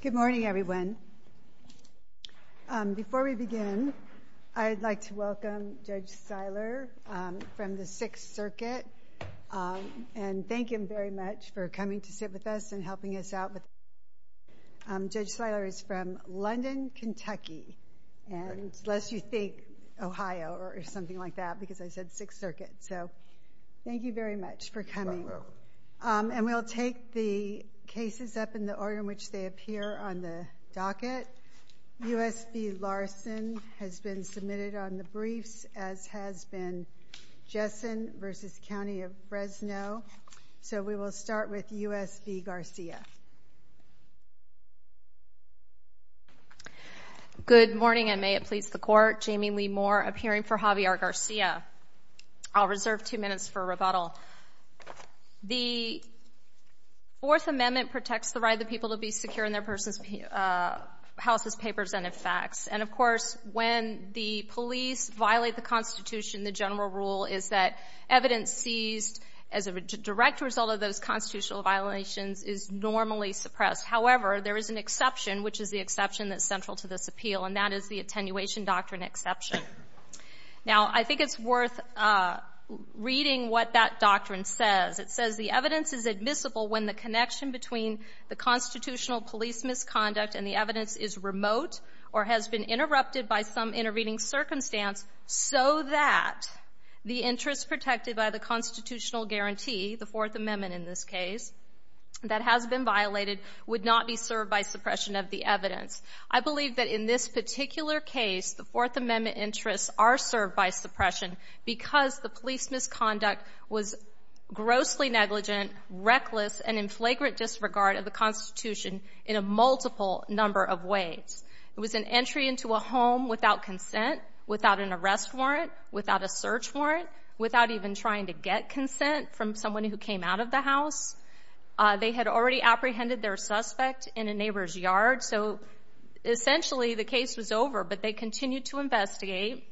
Good morning, everyone. Before we begin, I'd like to welcome Judge Seiler from the Sixth Circuit, and thank him very much for coming to sit with us and helping us out. Judge Seiler is from London, Kentucky, and lest you think Ohio or something like that, because I said And we'll take the cases up in the order in which they appear on the docket. U.S. v. Larson has been submitted on the briefs, as has been Jessen v. County of Fresno. So we will start with U.S. v. Garcia. Good morning, and may it please the Court. Jamie Lee Moore, appearing for Javier Garcia. I'll reserve two minutes for rebuttal. The Fourth Amendment protects the right of the people to be secure in their persons' houses, papers, and in facts. And of course, when the police violate the Constitution, the general rule is that evidence seized as a direct result of those constitutional violations is normally suppressed. However, there is an exception, which is the exception that's central to this appeal, and that is the Attenuation Doctrine exception. Now, I think it's worth reading what that doctrine says. It says the evidence is admissible when the connection between the constitutional police misconduct and the evidence is remote or has been interrupted by some intervening circumstance, so that the interest protected by the constitutional guarantee, the Fourth Amendment in this case, that has been violated, would not be served by suppression of the evidence. I believe that in this particular case, the Fourth Amendment interests are served by suppression because the police misconduct was grossly negligent, reckless, and in flagrant disregard of the Constitution in a multiple number of ways. It was an entry into a home without consent, without an arrest warrant, without a search warrant, without even trying to get consent from someone who came out of the house. They had already apprehended their suspect in a neighbor's yard, so essentially the case was over, but they continued to investigate.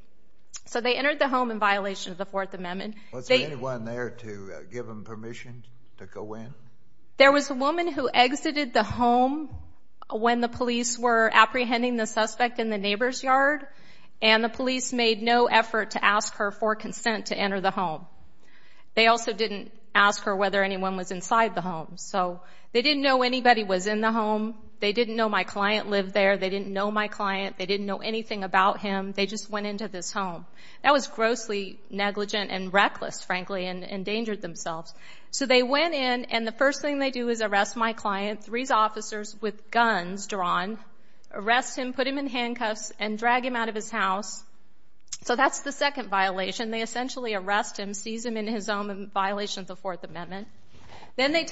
So they entered the home in violation of the Fourth Amendment. Was there anyone there to give them permission to go in? There was a woman who exited the home when the police were apprehending the suspect in the neighbor's yard, and the police made no effort to ask her for consent to enter the home. They also didn't ask her whether anyone was inside the home, so they didn't know anybody was in the home. They didn't know my client lived there. They didn't know my client. They didn't know anything about him. They just went into this home. That was grossly negligent and reckless, frankly, and endangered themselves. So they went in, and the first thing they do is arrest my client, three officers with guns drawn, arrest him, put him in handcuffs, and drag him out of his house. So that's the second violation. They essentially arrest him, seize him in his own violation of the Fourth Amendment, and then they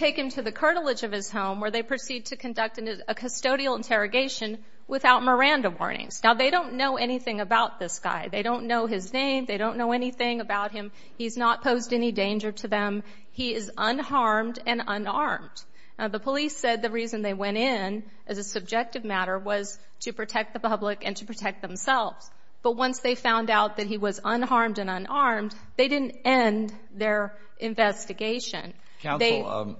proceed to conduct a custodial interrogation without Miranda warnings. Now, they don't know anything about this guy. They don't know his name. They don't know anything about him. He's not posed any danger to them. He is unharmed and unarmed. The police said the reason they went in as a subjective matter was to protect the public and to protect themselves, but once they found out that he was unharmed and unarmed, they didn't end their investigation. Counsel,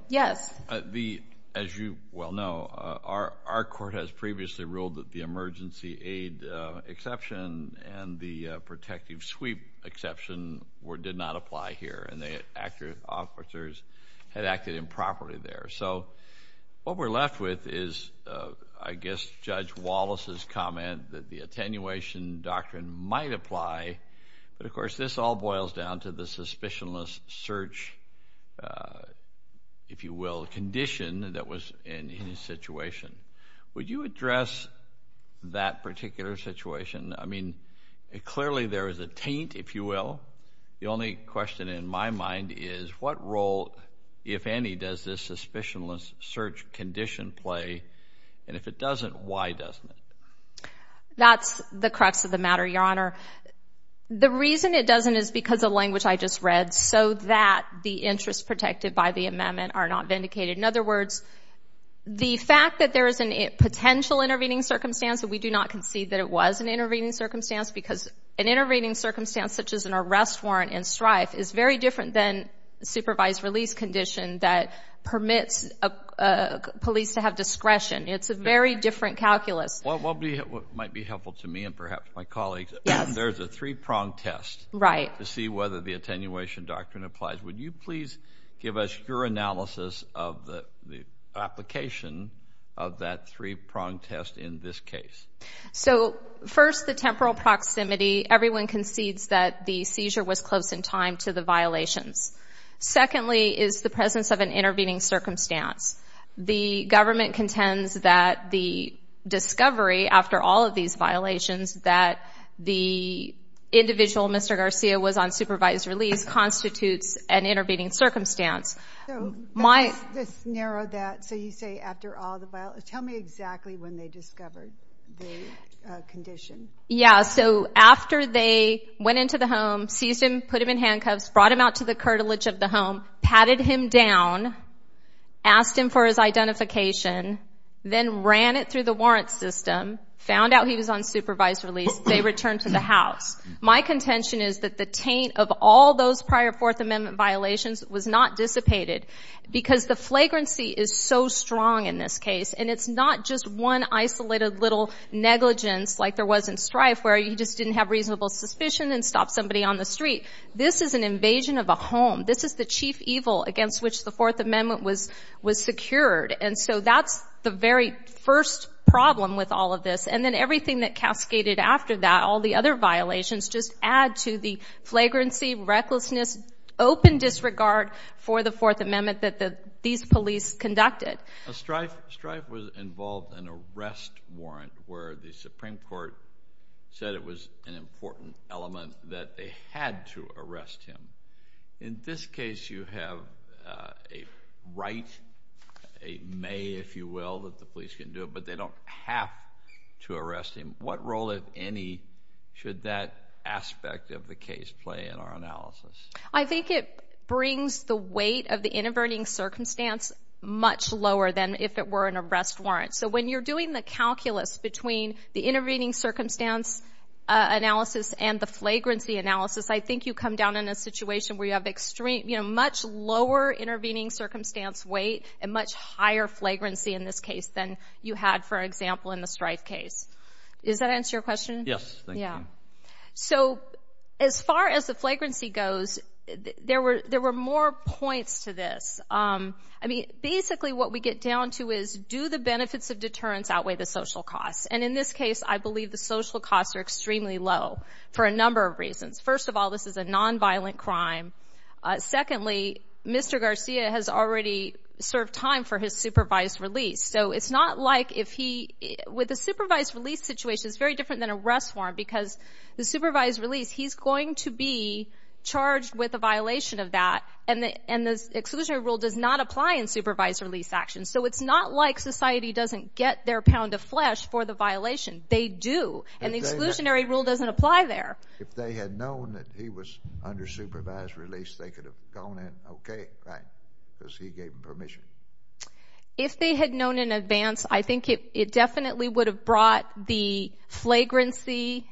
as you well know, our court has previously ruled that the emergency aid exception and the protective sweep exception did not apply here, and the officers had acted improperly there. So what we're left with is, I guess, Judge Wallace's comment that the attenuation if you will, condition that was in his situation. Would you address that particular situation? I mean, clearly there is a taint, if you will. The only question in my mind is, what role, if any, does this suspicionless search condition play? And if it doesn't, why doesn't it? That's the crux of the matter, Your Honor. The reason it doesn't is because of language I just read, so that the interests protected by the amendment are not vindicated. In other words, the fact that there is a potential intervening circumstance, but we do not concede that it was an intervening circumstance, because an intervening circumstance such as an arrest warrant and strife is very different than a supervised release condition that permits police to have discretion. It's a very different calculus. What might be helpful to me and perhaps my colleagues, there's a three-pronged test to see whether the attenuation doctrine applies. Would you please give us your analysis of the application of that three-pronged test in this case? So first, the temporal proximity. Everyone concedes that the seizure was close in time to the violations. Secondly is the presence of an intervening circumstance. The government contends that the discovery after all of these violations that the individual, Mr. Garcia, was on supervised release constitutes an intervening circumstance. So, let's narrow that. So you say after all the violations. Tell me exactly when they discovered the condition. Yeah, so after they went into the home, seized him, put him in handcuffs, brought him out to the curtilage of the home, patted him down, asked him for his identification, then ran it through the warrant system, found out he was on supervised release, they returned to the house. My contention is that the taint of all those prior Fourth Amendment violations was not dissipated because the flagrancy is so strong in this case, and it's not just one isolated little negligence like there was in Strife where he just didn't have reasonable suspicion and stopped somebody on the street. This is an invasion of a home. This is the chief evil against which the Fourth Amendment was secured. And so that's the very first problem with all of this. And then everything that cascaded after that, all the other violations, just add to the flagrancy, recklessness, open disregard for the Fourth Amendment that these police conducted. Strife was involved in an arrest warrant where the Supreme Court said it was an important element that they had to arrest him. In this case, you have a right, a may, if you will, that the police can do it, but they don't have to arrest him. What role, if any, should that aspect of the case play in our analysis? I think it brings the weight of the intervening circumstance much lower than if it were an arrest warrant. So when you're doing the calculus between the intervening circumstance analysis and the flagrancy analysis, I think you come down in a situation where you have extreme, you know, much lower intervening circumstance weight and much higher flagrancy in this case than you had, for example, in the Strife case. Does that answer your question? Yes, thank you. So as far as the flagrancy goes, there were more points to this. I mean, basically what we get down to is do the benefits of deterrence outweigh the social costs? And in this case, I believe the social costs are extremely low for a number of reasons. First of all, this is a nonviolent crime. Secondly, Mr. Garcia has already served time for his supervised release. So it's not like if he, with a supervised release situation, it's very different than an arrest warrant because the supervised release, he's going to be charged with a violation of that, and the exclusionary rule does not apply in supervised release actions. So it's not like society doesn't get their pound of flesh for the violation. They do, and the exclusionary rule doesn't apply there. If they had known that he was under supervised release, they could have gone in, okay, right, because he gave them permission. If they had known in advance, I think it definitely would have brought the flagrancy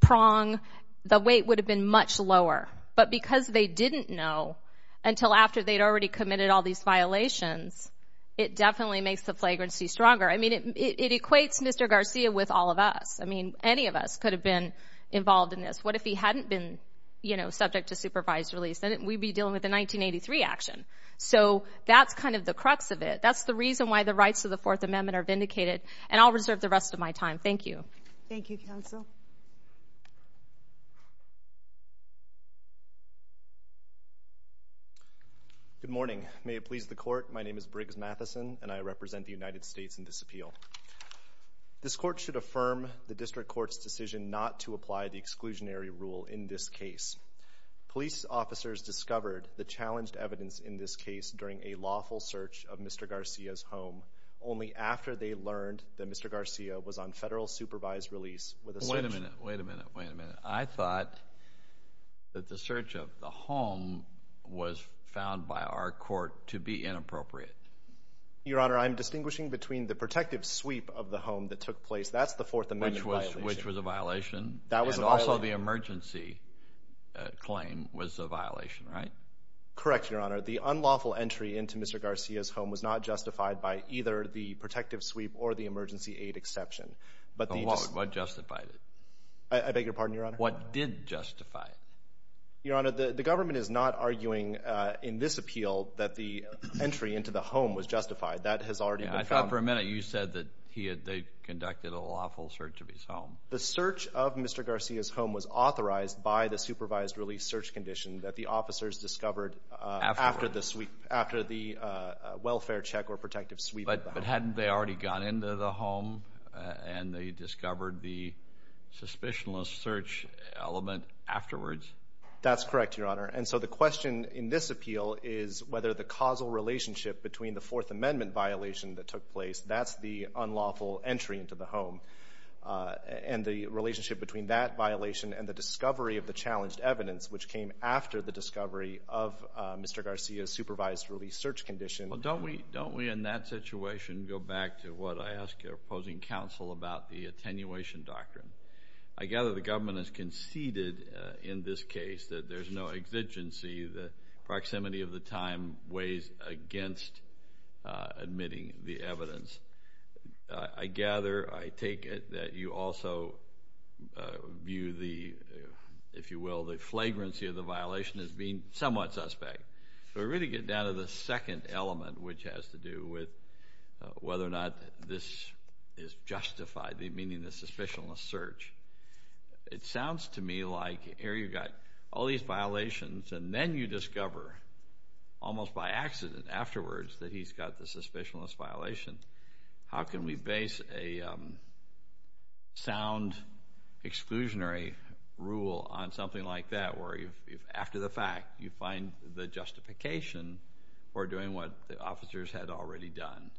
prong, the weight would have been much lower. But because they didn't know until after they'd already committed all these violations, it definitely makes the flagrancy stronger. I mean, it equates Mr. Garcia with all of us. I mean, any of us could have been involved in this. What if he hadn't been, you know, subject to supervised release? Then we'd be dealing with a 1983 action. So that's kind of the crux of it. That's the reason why the rights of the Fourth Amendment are vindicated, and I'll reserve the rest of my time. Thank you. Thank you, counsel. Good morning. May it please the Court, my name is Briggs Matheson, and I represent the This Court should affirm the District Court's decision not to apply the exclusionary rule in this case. Police officers discovered the challenged evidence in this case during a lawful search of Mr. Garcia's home only after they learned that Mr. Garcia was on federal supervised release with a search. Wait a minute, wait a minute, wait a minute. I thought that the search of the home was found by our court to be inappropriate. Your Honor, I'm distinguishing between the protective sweep of the home that took place. That's the Fourth Amendment violation. Which was a violation. That was a violation. And also the emergency claim was a violation, right? Correct, Your Honor. The unlawful entry into Mr. Garcia's home was not justified by either the protective sweep or the emergency aid exception. But what justified it? I beg your pardon, Your Honor? What did justify it? Your Honor, the government is not arguing in this appeal that the entry into the home was justified. That has already been found. I thought for a minute you said that they conducted a lawful search of his home. The search of Mr. Garcia's home was authorized by the supervised release search condition that the officers discovered after the welfare check or protective sweep. But hadn't they already gone into the home and they discovered the suspicionless search element afterwards? That's correct, Your Honor. And so the question in this appeal is whether the causal relationship between the Fourth Amendment violation that took place, that's the unlawful entry into the home, and the relationship between that violation and the discovery of the challenged evidence, which came after the discovery of Mr. Garcia's supervised release search condition. Well, don't we in that situation go back to what I asked your opposing counsel about the attenuation doctrine? I gather the government has conceded in this case that there's no exigency. The proximity of the time weighs against admitting the evidence. I gather, I take it, that you also view the, if you will, the flagrancy of the violation as being somewhat suspect. So we really get down to the second element, which has to do with whether or not this is It sounds to me like here you've got all these violations, and then you discover, almost by accident afterwards, that he's got the suspicionless violation. How can we base a sound exclusionary rule on something like that, where after the fact you find the justification for doing what the officers had already done?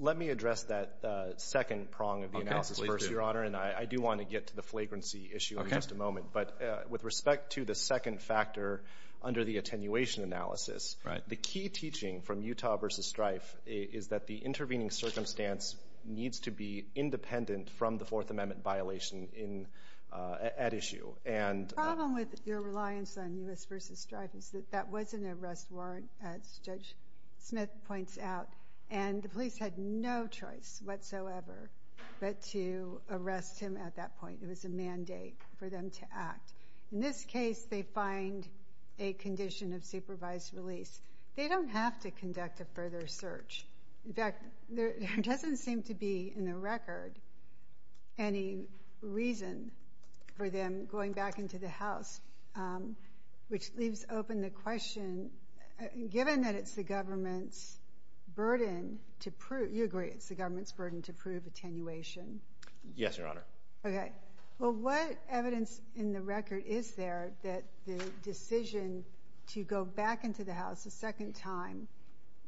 Let me address that second prong of the analysis first, Your Honor. And I do want to get to the flagrancy issue in just a moment. But with respect to the second factor under the attenuation analysis, the key teaching from Utah v. Strife is that the intervening circumstance needs to be independent from the Fourth Amendment violation at issue. The problem with your reliance on U.S. v. Strife is that that was an arrest warrant, as Judge Smith points out, and the police had no choice whatsoever but to arrest him at that point. It was a mandate for them to act. In this case, they find a condition of supervised release. They don't have to conduct a further search. In fact, there doesn't seem to be in the record any reason for them going back into the house, which leaves open the question, given that it's the government's burden to prove Yes, Your Honor. Okay. Well, what evidence in the record is there that the decision to go back into the house a second time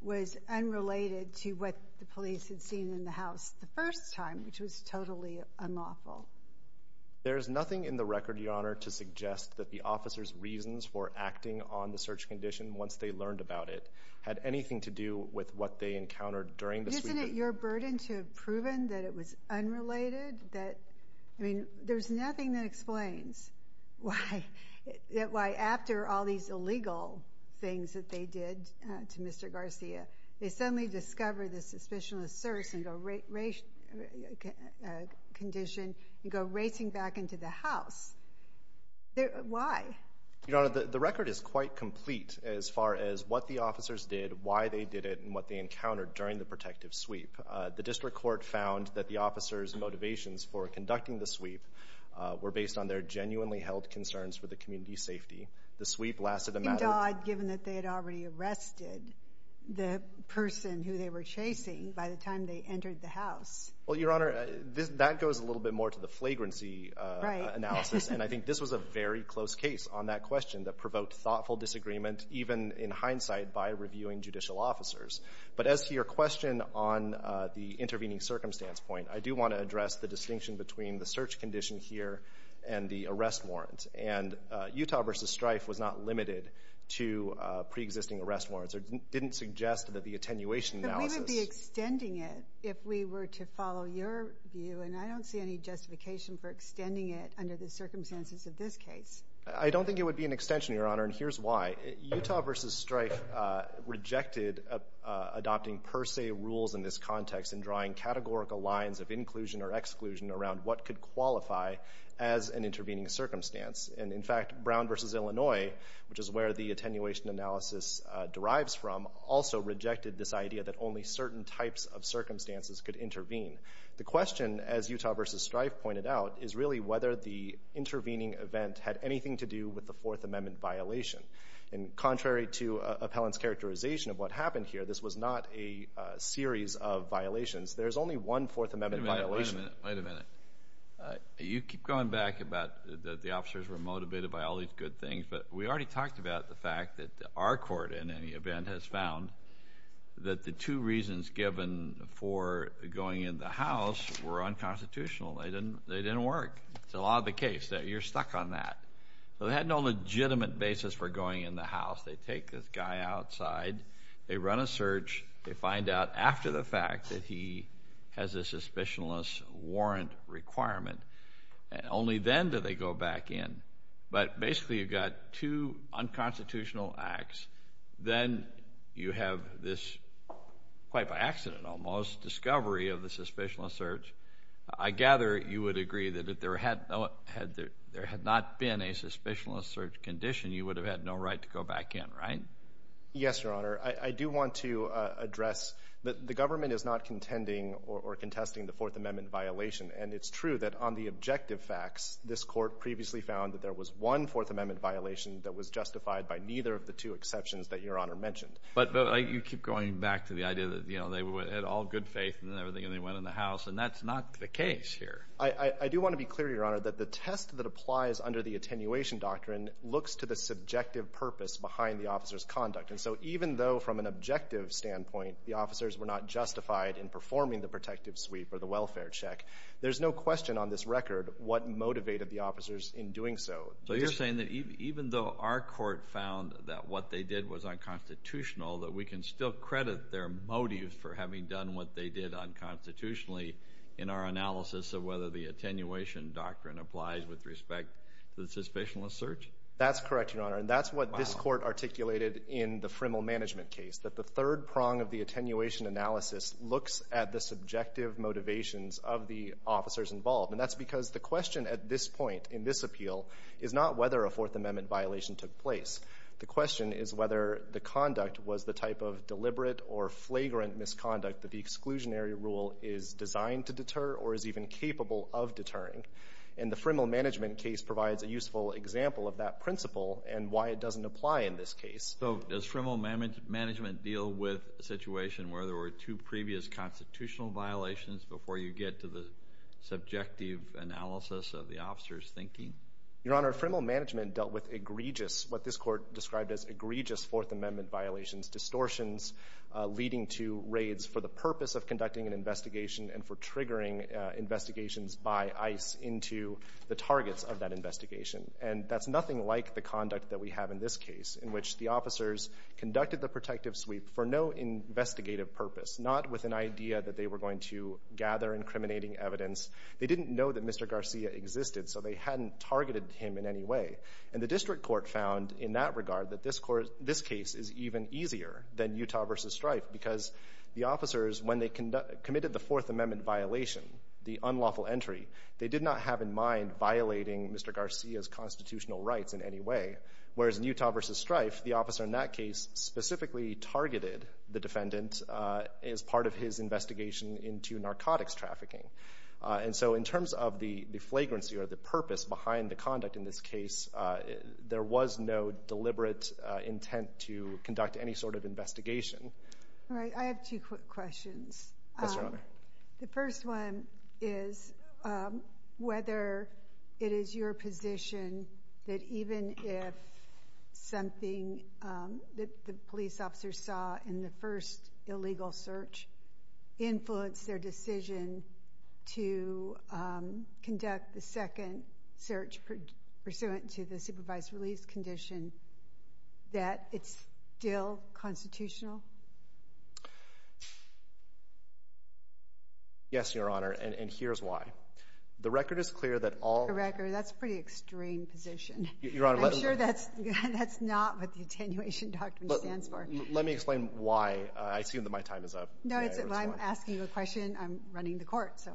was unrelated to what the police had seen in the house the first time, which was totally unlawful? There is nothing in the record, Your Honor, to suggest that the officers' reasons for acting on the search condition once they learned about it had anything to do with what they encountered during the sweeper. Isn't it your burden to have proven that it was unrelated? I mean, there's nothing that explains why after all these illegal things that they did to Mr. Garcia, they suddenly discover this suspicionless search condition and go racing back into the house. Why? Your Honor, the record is quite complete as far as what the officers did, why they did it, and what they encountered during the protective sweep. The district court found that the officers' motivations for conducting the sweep were based on their genuinely held concerns for the community's safety. The sweep lasted a matter of— You'd be dawed, given that they had already arrested the person who they were chasing by the time they entered the house. Well, Your Honor, that goes a little bit more to the flagrancy analysis, and I think this was a very close case on that question that provoked thoughtful disagreement, even in hindsight, by reviewing judicial officers. But as to your question on the intervening circumstance point, I do want to address the distinction between the search condition here and the arrest warrant. And Utah v. Strife was not limited to preexisting arrest warrants. It didn't suggest that the attenuation analysis— But we would be extending it if we were to follow your view, and I don't see any justification for extending it under the circumstances of this case. I don't think it would be an extension, Your Honor, and here's why. Utah v. Strife rejected adopting per se rules in this context and drawing categorical lines of inclusion or exclusion around what could qualify as an intervening circumstance. And in fact, Brown v. Illinois, which is where the attenuation analysis derives from, also rejected this idea that only certain types of circumstances could intervene. The question, as Utah v. Strife pointed out, is really whether the intervening event had anything to do with the Fourth Amendment violation. And contrary to appellant's characterization of what happened here, this was not a series of violations. There is only one Fourth Amendment violation. Wait a minute. Wait a minute. You keep going back about the officers were motivated by all these good things, but we already talked about the fact that our court, in any event, has found that the two reasons given for going in the House were unconstitutional. They didn't work. That's a lot of the case. You're stuck on that. So they had no legitimate basis for going in the House. They take this guy outside, they run a search, they find out after the fact that he has a Suspicionless Warrant requirement. Only then do they go back in. But basically you've got two unconstitutional acts. Then you have this, quite by accident almost, discovery of the Suspicionless Search. I gather you would agree that if there had not been a Suspicionless Search condition, you would have had no right to go back in, right? Yes, Your Honor. I do want to address that the government is not contending or contesting the Fourth Amendment violation. And it's true that on the objective facts, this court previously found that there was one Fourth Amendment violation that was justified by neither of the two exceptions that Your Honor mentioned. But you keep going back to the idea that they had all good faith and everything, and that's not the case here. I do want to be clear, Your Honor, that the test that applies under the Attenuation Doctrine looks to the subjective purpose behind the officer's conduct. And so even though from an objective standpoint, the officers were not justified in performing the protective sweep or the welfare check, there's no question on this record what motivated the officers in doing so. So you're saying that even though our court found that what they did was unconstitutional, that we can still credit their motives for having done what they did unconstitutionally in our analysis of whether the Attenuation Doctrine applies with respect to the Suspicionless Search? That's correct, Your Honor. And that's what this court articulated in the Frimmel Management case, that the third prong of the Attenuation Analysis looks at the subjective motivations of the officers involved. And that's because the question at this point in this appeal is not whether a Fourth Amendment violation took place. The question is whether the conduct was the type of deliberate or flagrant misconduct that the exclusionary rule is designed to deter or is even capable of deterring. And the Frimmel Management case provides a useful example of that principle and why it doesn't apply in this case. So does Frimmel Management deal with a situation where there were two previous constitutional violations before you get to the subjective analysis of the officers' thinking? Your Honor, Frimmel Management dealt with egregious, what this court described as egregious Fourth Amendment violations, distortions leading to raids for the purpose of conducting an investigation and for triggering investigations by ICE into the targets of that investigation. And that's nothing like the conduct that we have in this case in which the officers conducted the protective sweep for no investigative purpose, not with an idea that they were going to gather incriminating evidence. They didn't know that Mr. Garcia existed, so they hadn't targeted him in any way. And the district court found, in that regard, that this case is even easier than Utah v. Strife because the officers, when they committed the Fourth Amendment violation, the unlawful entry, they did not have in mind violating Mr. Garcia's constitutional rights in any way, whereas in Utah v. Strife, the officer in that case specifically targeted the defendant as part of his investigation into narcotics trafficking. And so in terms of the flagrancy or the purpose behind the conduct in this case, there was no deliberate intent to conduct any sort of investigation. All right. I have two quick questions. Yes, Your Honor. The first one is whether it is your position that even if something that the police officers saw in the first illegal search influenced their decision to conduct the second search pursuant to the supervised release condition, that it's still constitutional? Yes, Your Honor, and here's why. The record is clear that all— The record—that's a pretty extreme position. I'm sure that's not what the attenuation doctrine stands for. Let me explain why. I assume that my time is up. No, I'm asking you a question. I'm running the court, so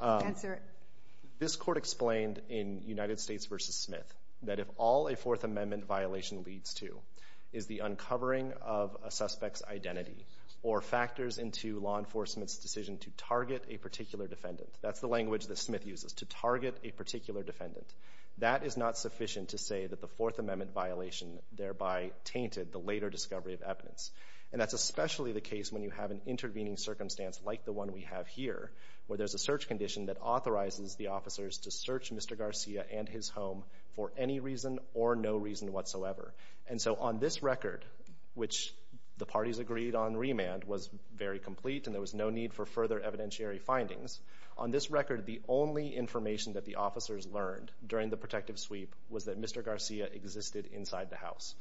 answer it. This court explained in United States v. Smith that if all a Fourth Amendment violation leads to is the uncovering of a suspect's identity or factors into law enforcement's decision to target a particular defendant— that's the language that Smith uses, to target a particular defendant— that is not sufficient to say that the Fourth Amendment violation thereby tainted the later discovery of evidence. And that's especially the case when you have an intervening circumstance like the one we have here, where there's a search condition that authorizes the officers to search Mr. Garcia and his home for any reason or no reason whatsoever. And so on this record, which the parties agreed on remand, was very complete and there was no need for further evidentiary findings. On this record, the only information that the officers learned during the protective sweep was that Mr. Garcia existed inside the house.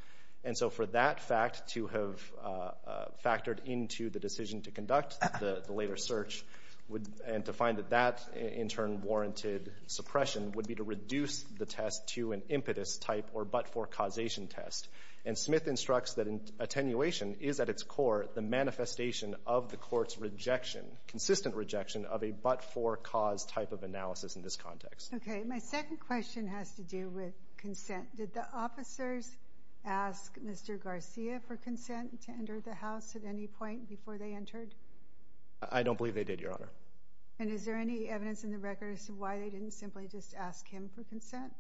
And so for that fact to have factored into the decision to conduct the later search and to find that that in turn warranted suppression would be to reduce the test to an impetus type or but-for causation test. And Smith instructs that attenuation is at its core the manifestation of the court's rejection, consistent rejection of a but-for cause type of analysis in this context. Okay. My second question has to do with consent. Did the officers ask Mr. Garcia for consent to enter the house at any point before they entered? I don't believe they did, Your Honor. And is there any evidence in the records of why they didn't simply just ask him for consent?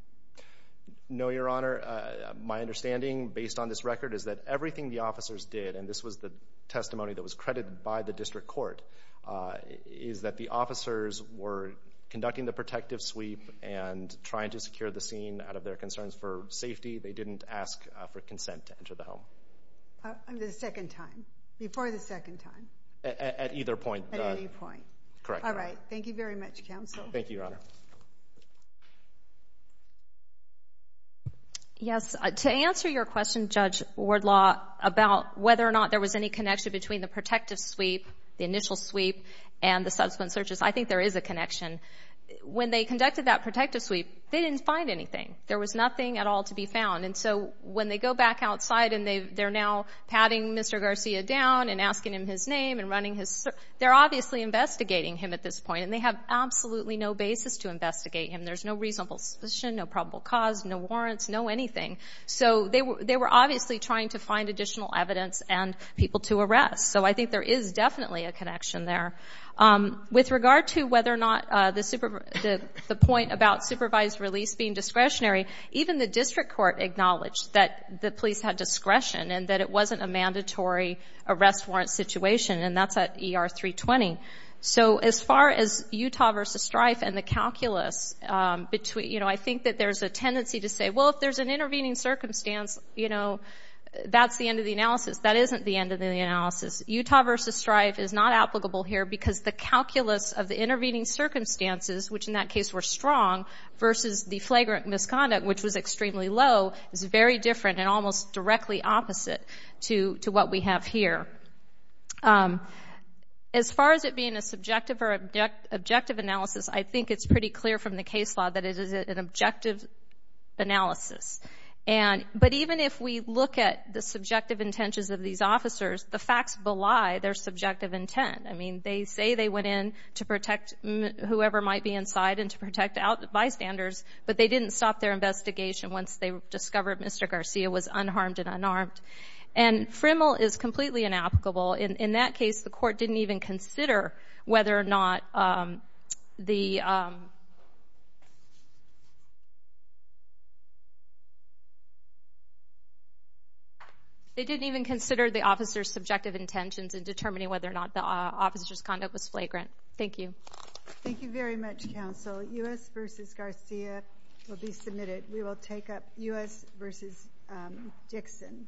No, Your Honor. My understanding based on this record is that everything the officers did, and this was the testimony that was credited by the district court, is that the officers were conducting the protective sweep and trying to secure the scene out of their concerns for safety. They didn't ask for consent to enter the home. The second time, before the second time? At either point. At any point. Correct. All right. Thank you very much, counsel. Thank you, Your Honor. Yes. To answer your question, Judge Wardlaw, about whether or not there was any connection between the protective sweep, the initial sweep, and the subsequent searches, I think there is a connection. When they conducted that protective sweep, they didn't find anything. There was nothing at all to be found. And so when they go back outside and they're now patting Mr. Garcia down and asking him his name and running his search, they're obviously investigating him at this point, and they have absolutely no basis to investigate him. There's no reasonable suspicion, no probable cause, no warrants, no anything. So they were obviously trying to find additional evidence and people to arrest. So I think there is definitely a connection there. With regard to whether or not the point about supervised release being discretionary, even the district court acknowledged that the police had discretion and that it wasn't a mandatory arrest warrant situation, and that's at ER 320. So as far as Utah v. Strife and the calculus, I think that there's a tendency to say, well, if there's an intervening circumstance, that's the end of the analysis. That isn't the end of the analysis. Utah v. Strife is not applicable here because the calculus of the intervening circumstances, which in that case were strong, versus the flagrant misconduct, which was extremely low, is very different and almost directly opposite to what we have here. As far as it being a subjective or objective analysis, I think it's pretty clear from the case law that it is an objective analysis. But even if we look at the subjective intentions of these officers, the facts belie their subjective intent. I mean, they say they went in to protect whoever might be inside and to protect bystanders, but they didn't stop their investigation once they discovered Mr. Garcia was unharmed and unarmed. And FRIML is completely inapplicable. In that case, the court didn't even consider whether or not the officer's subjective intentions in determining whether or not the officer's conduct was flagrant. Thank you. Thank you very much, counsel. U.S. v. Garcia will be submitted. We will take up U.S. v. Dixon next.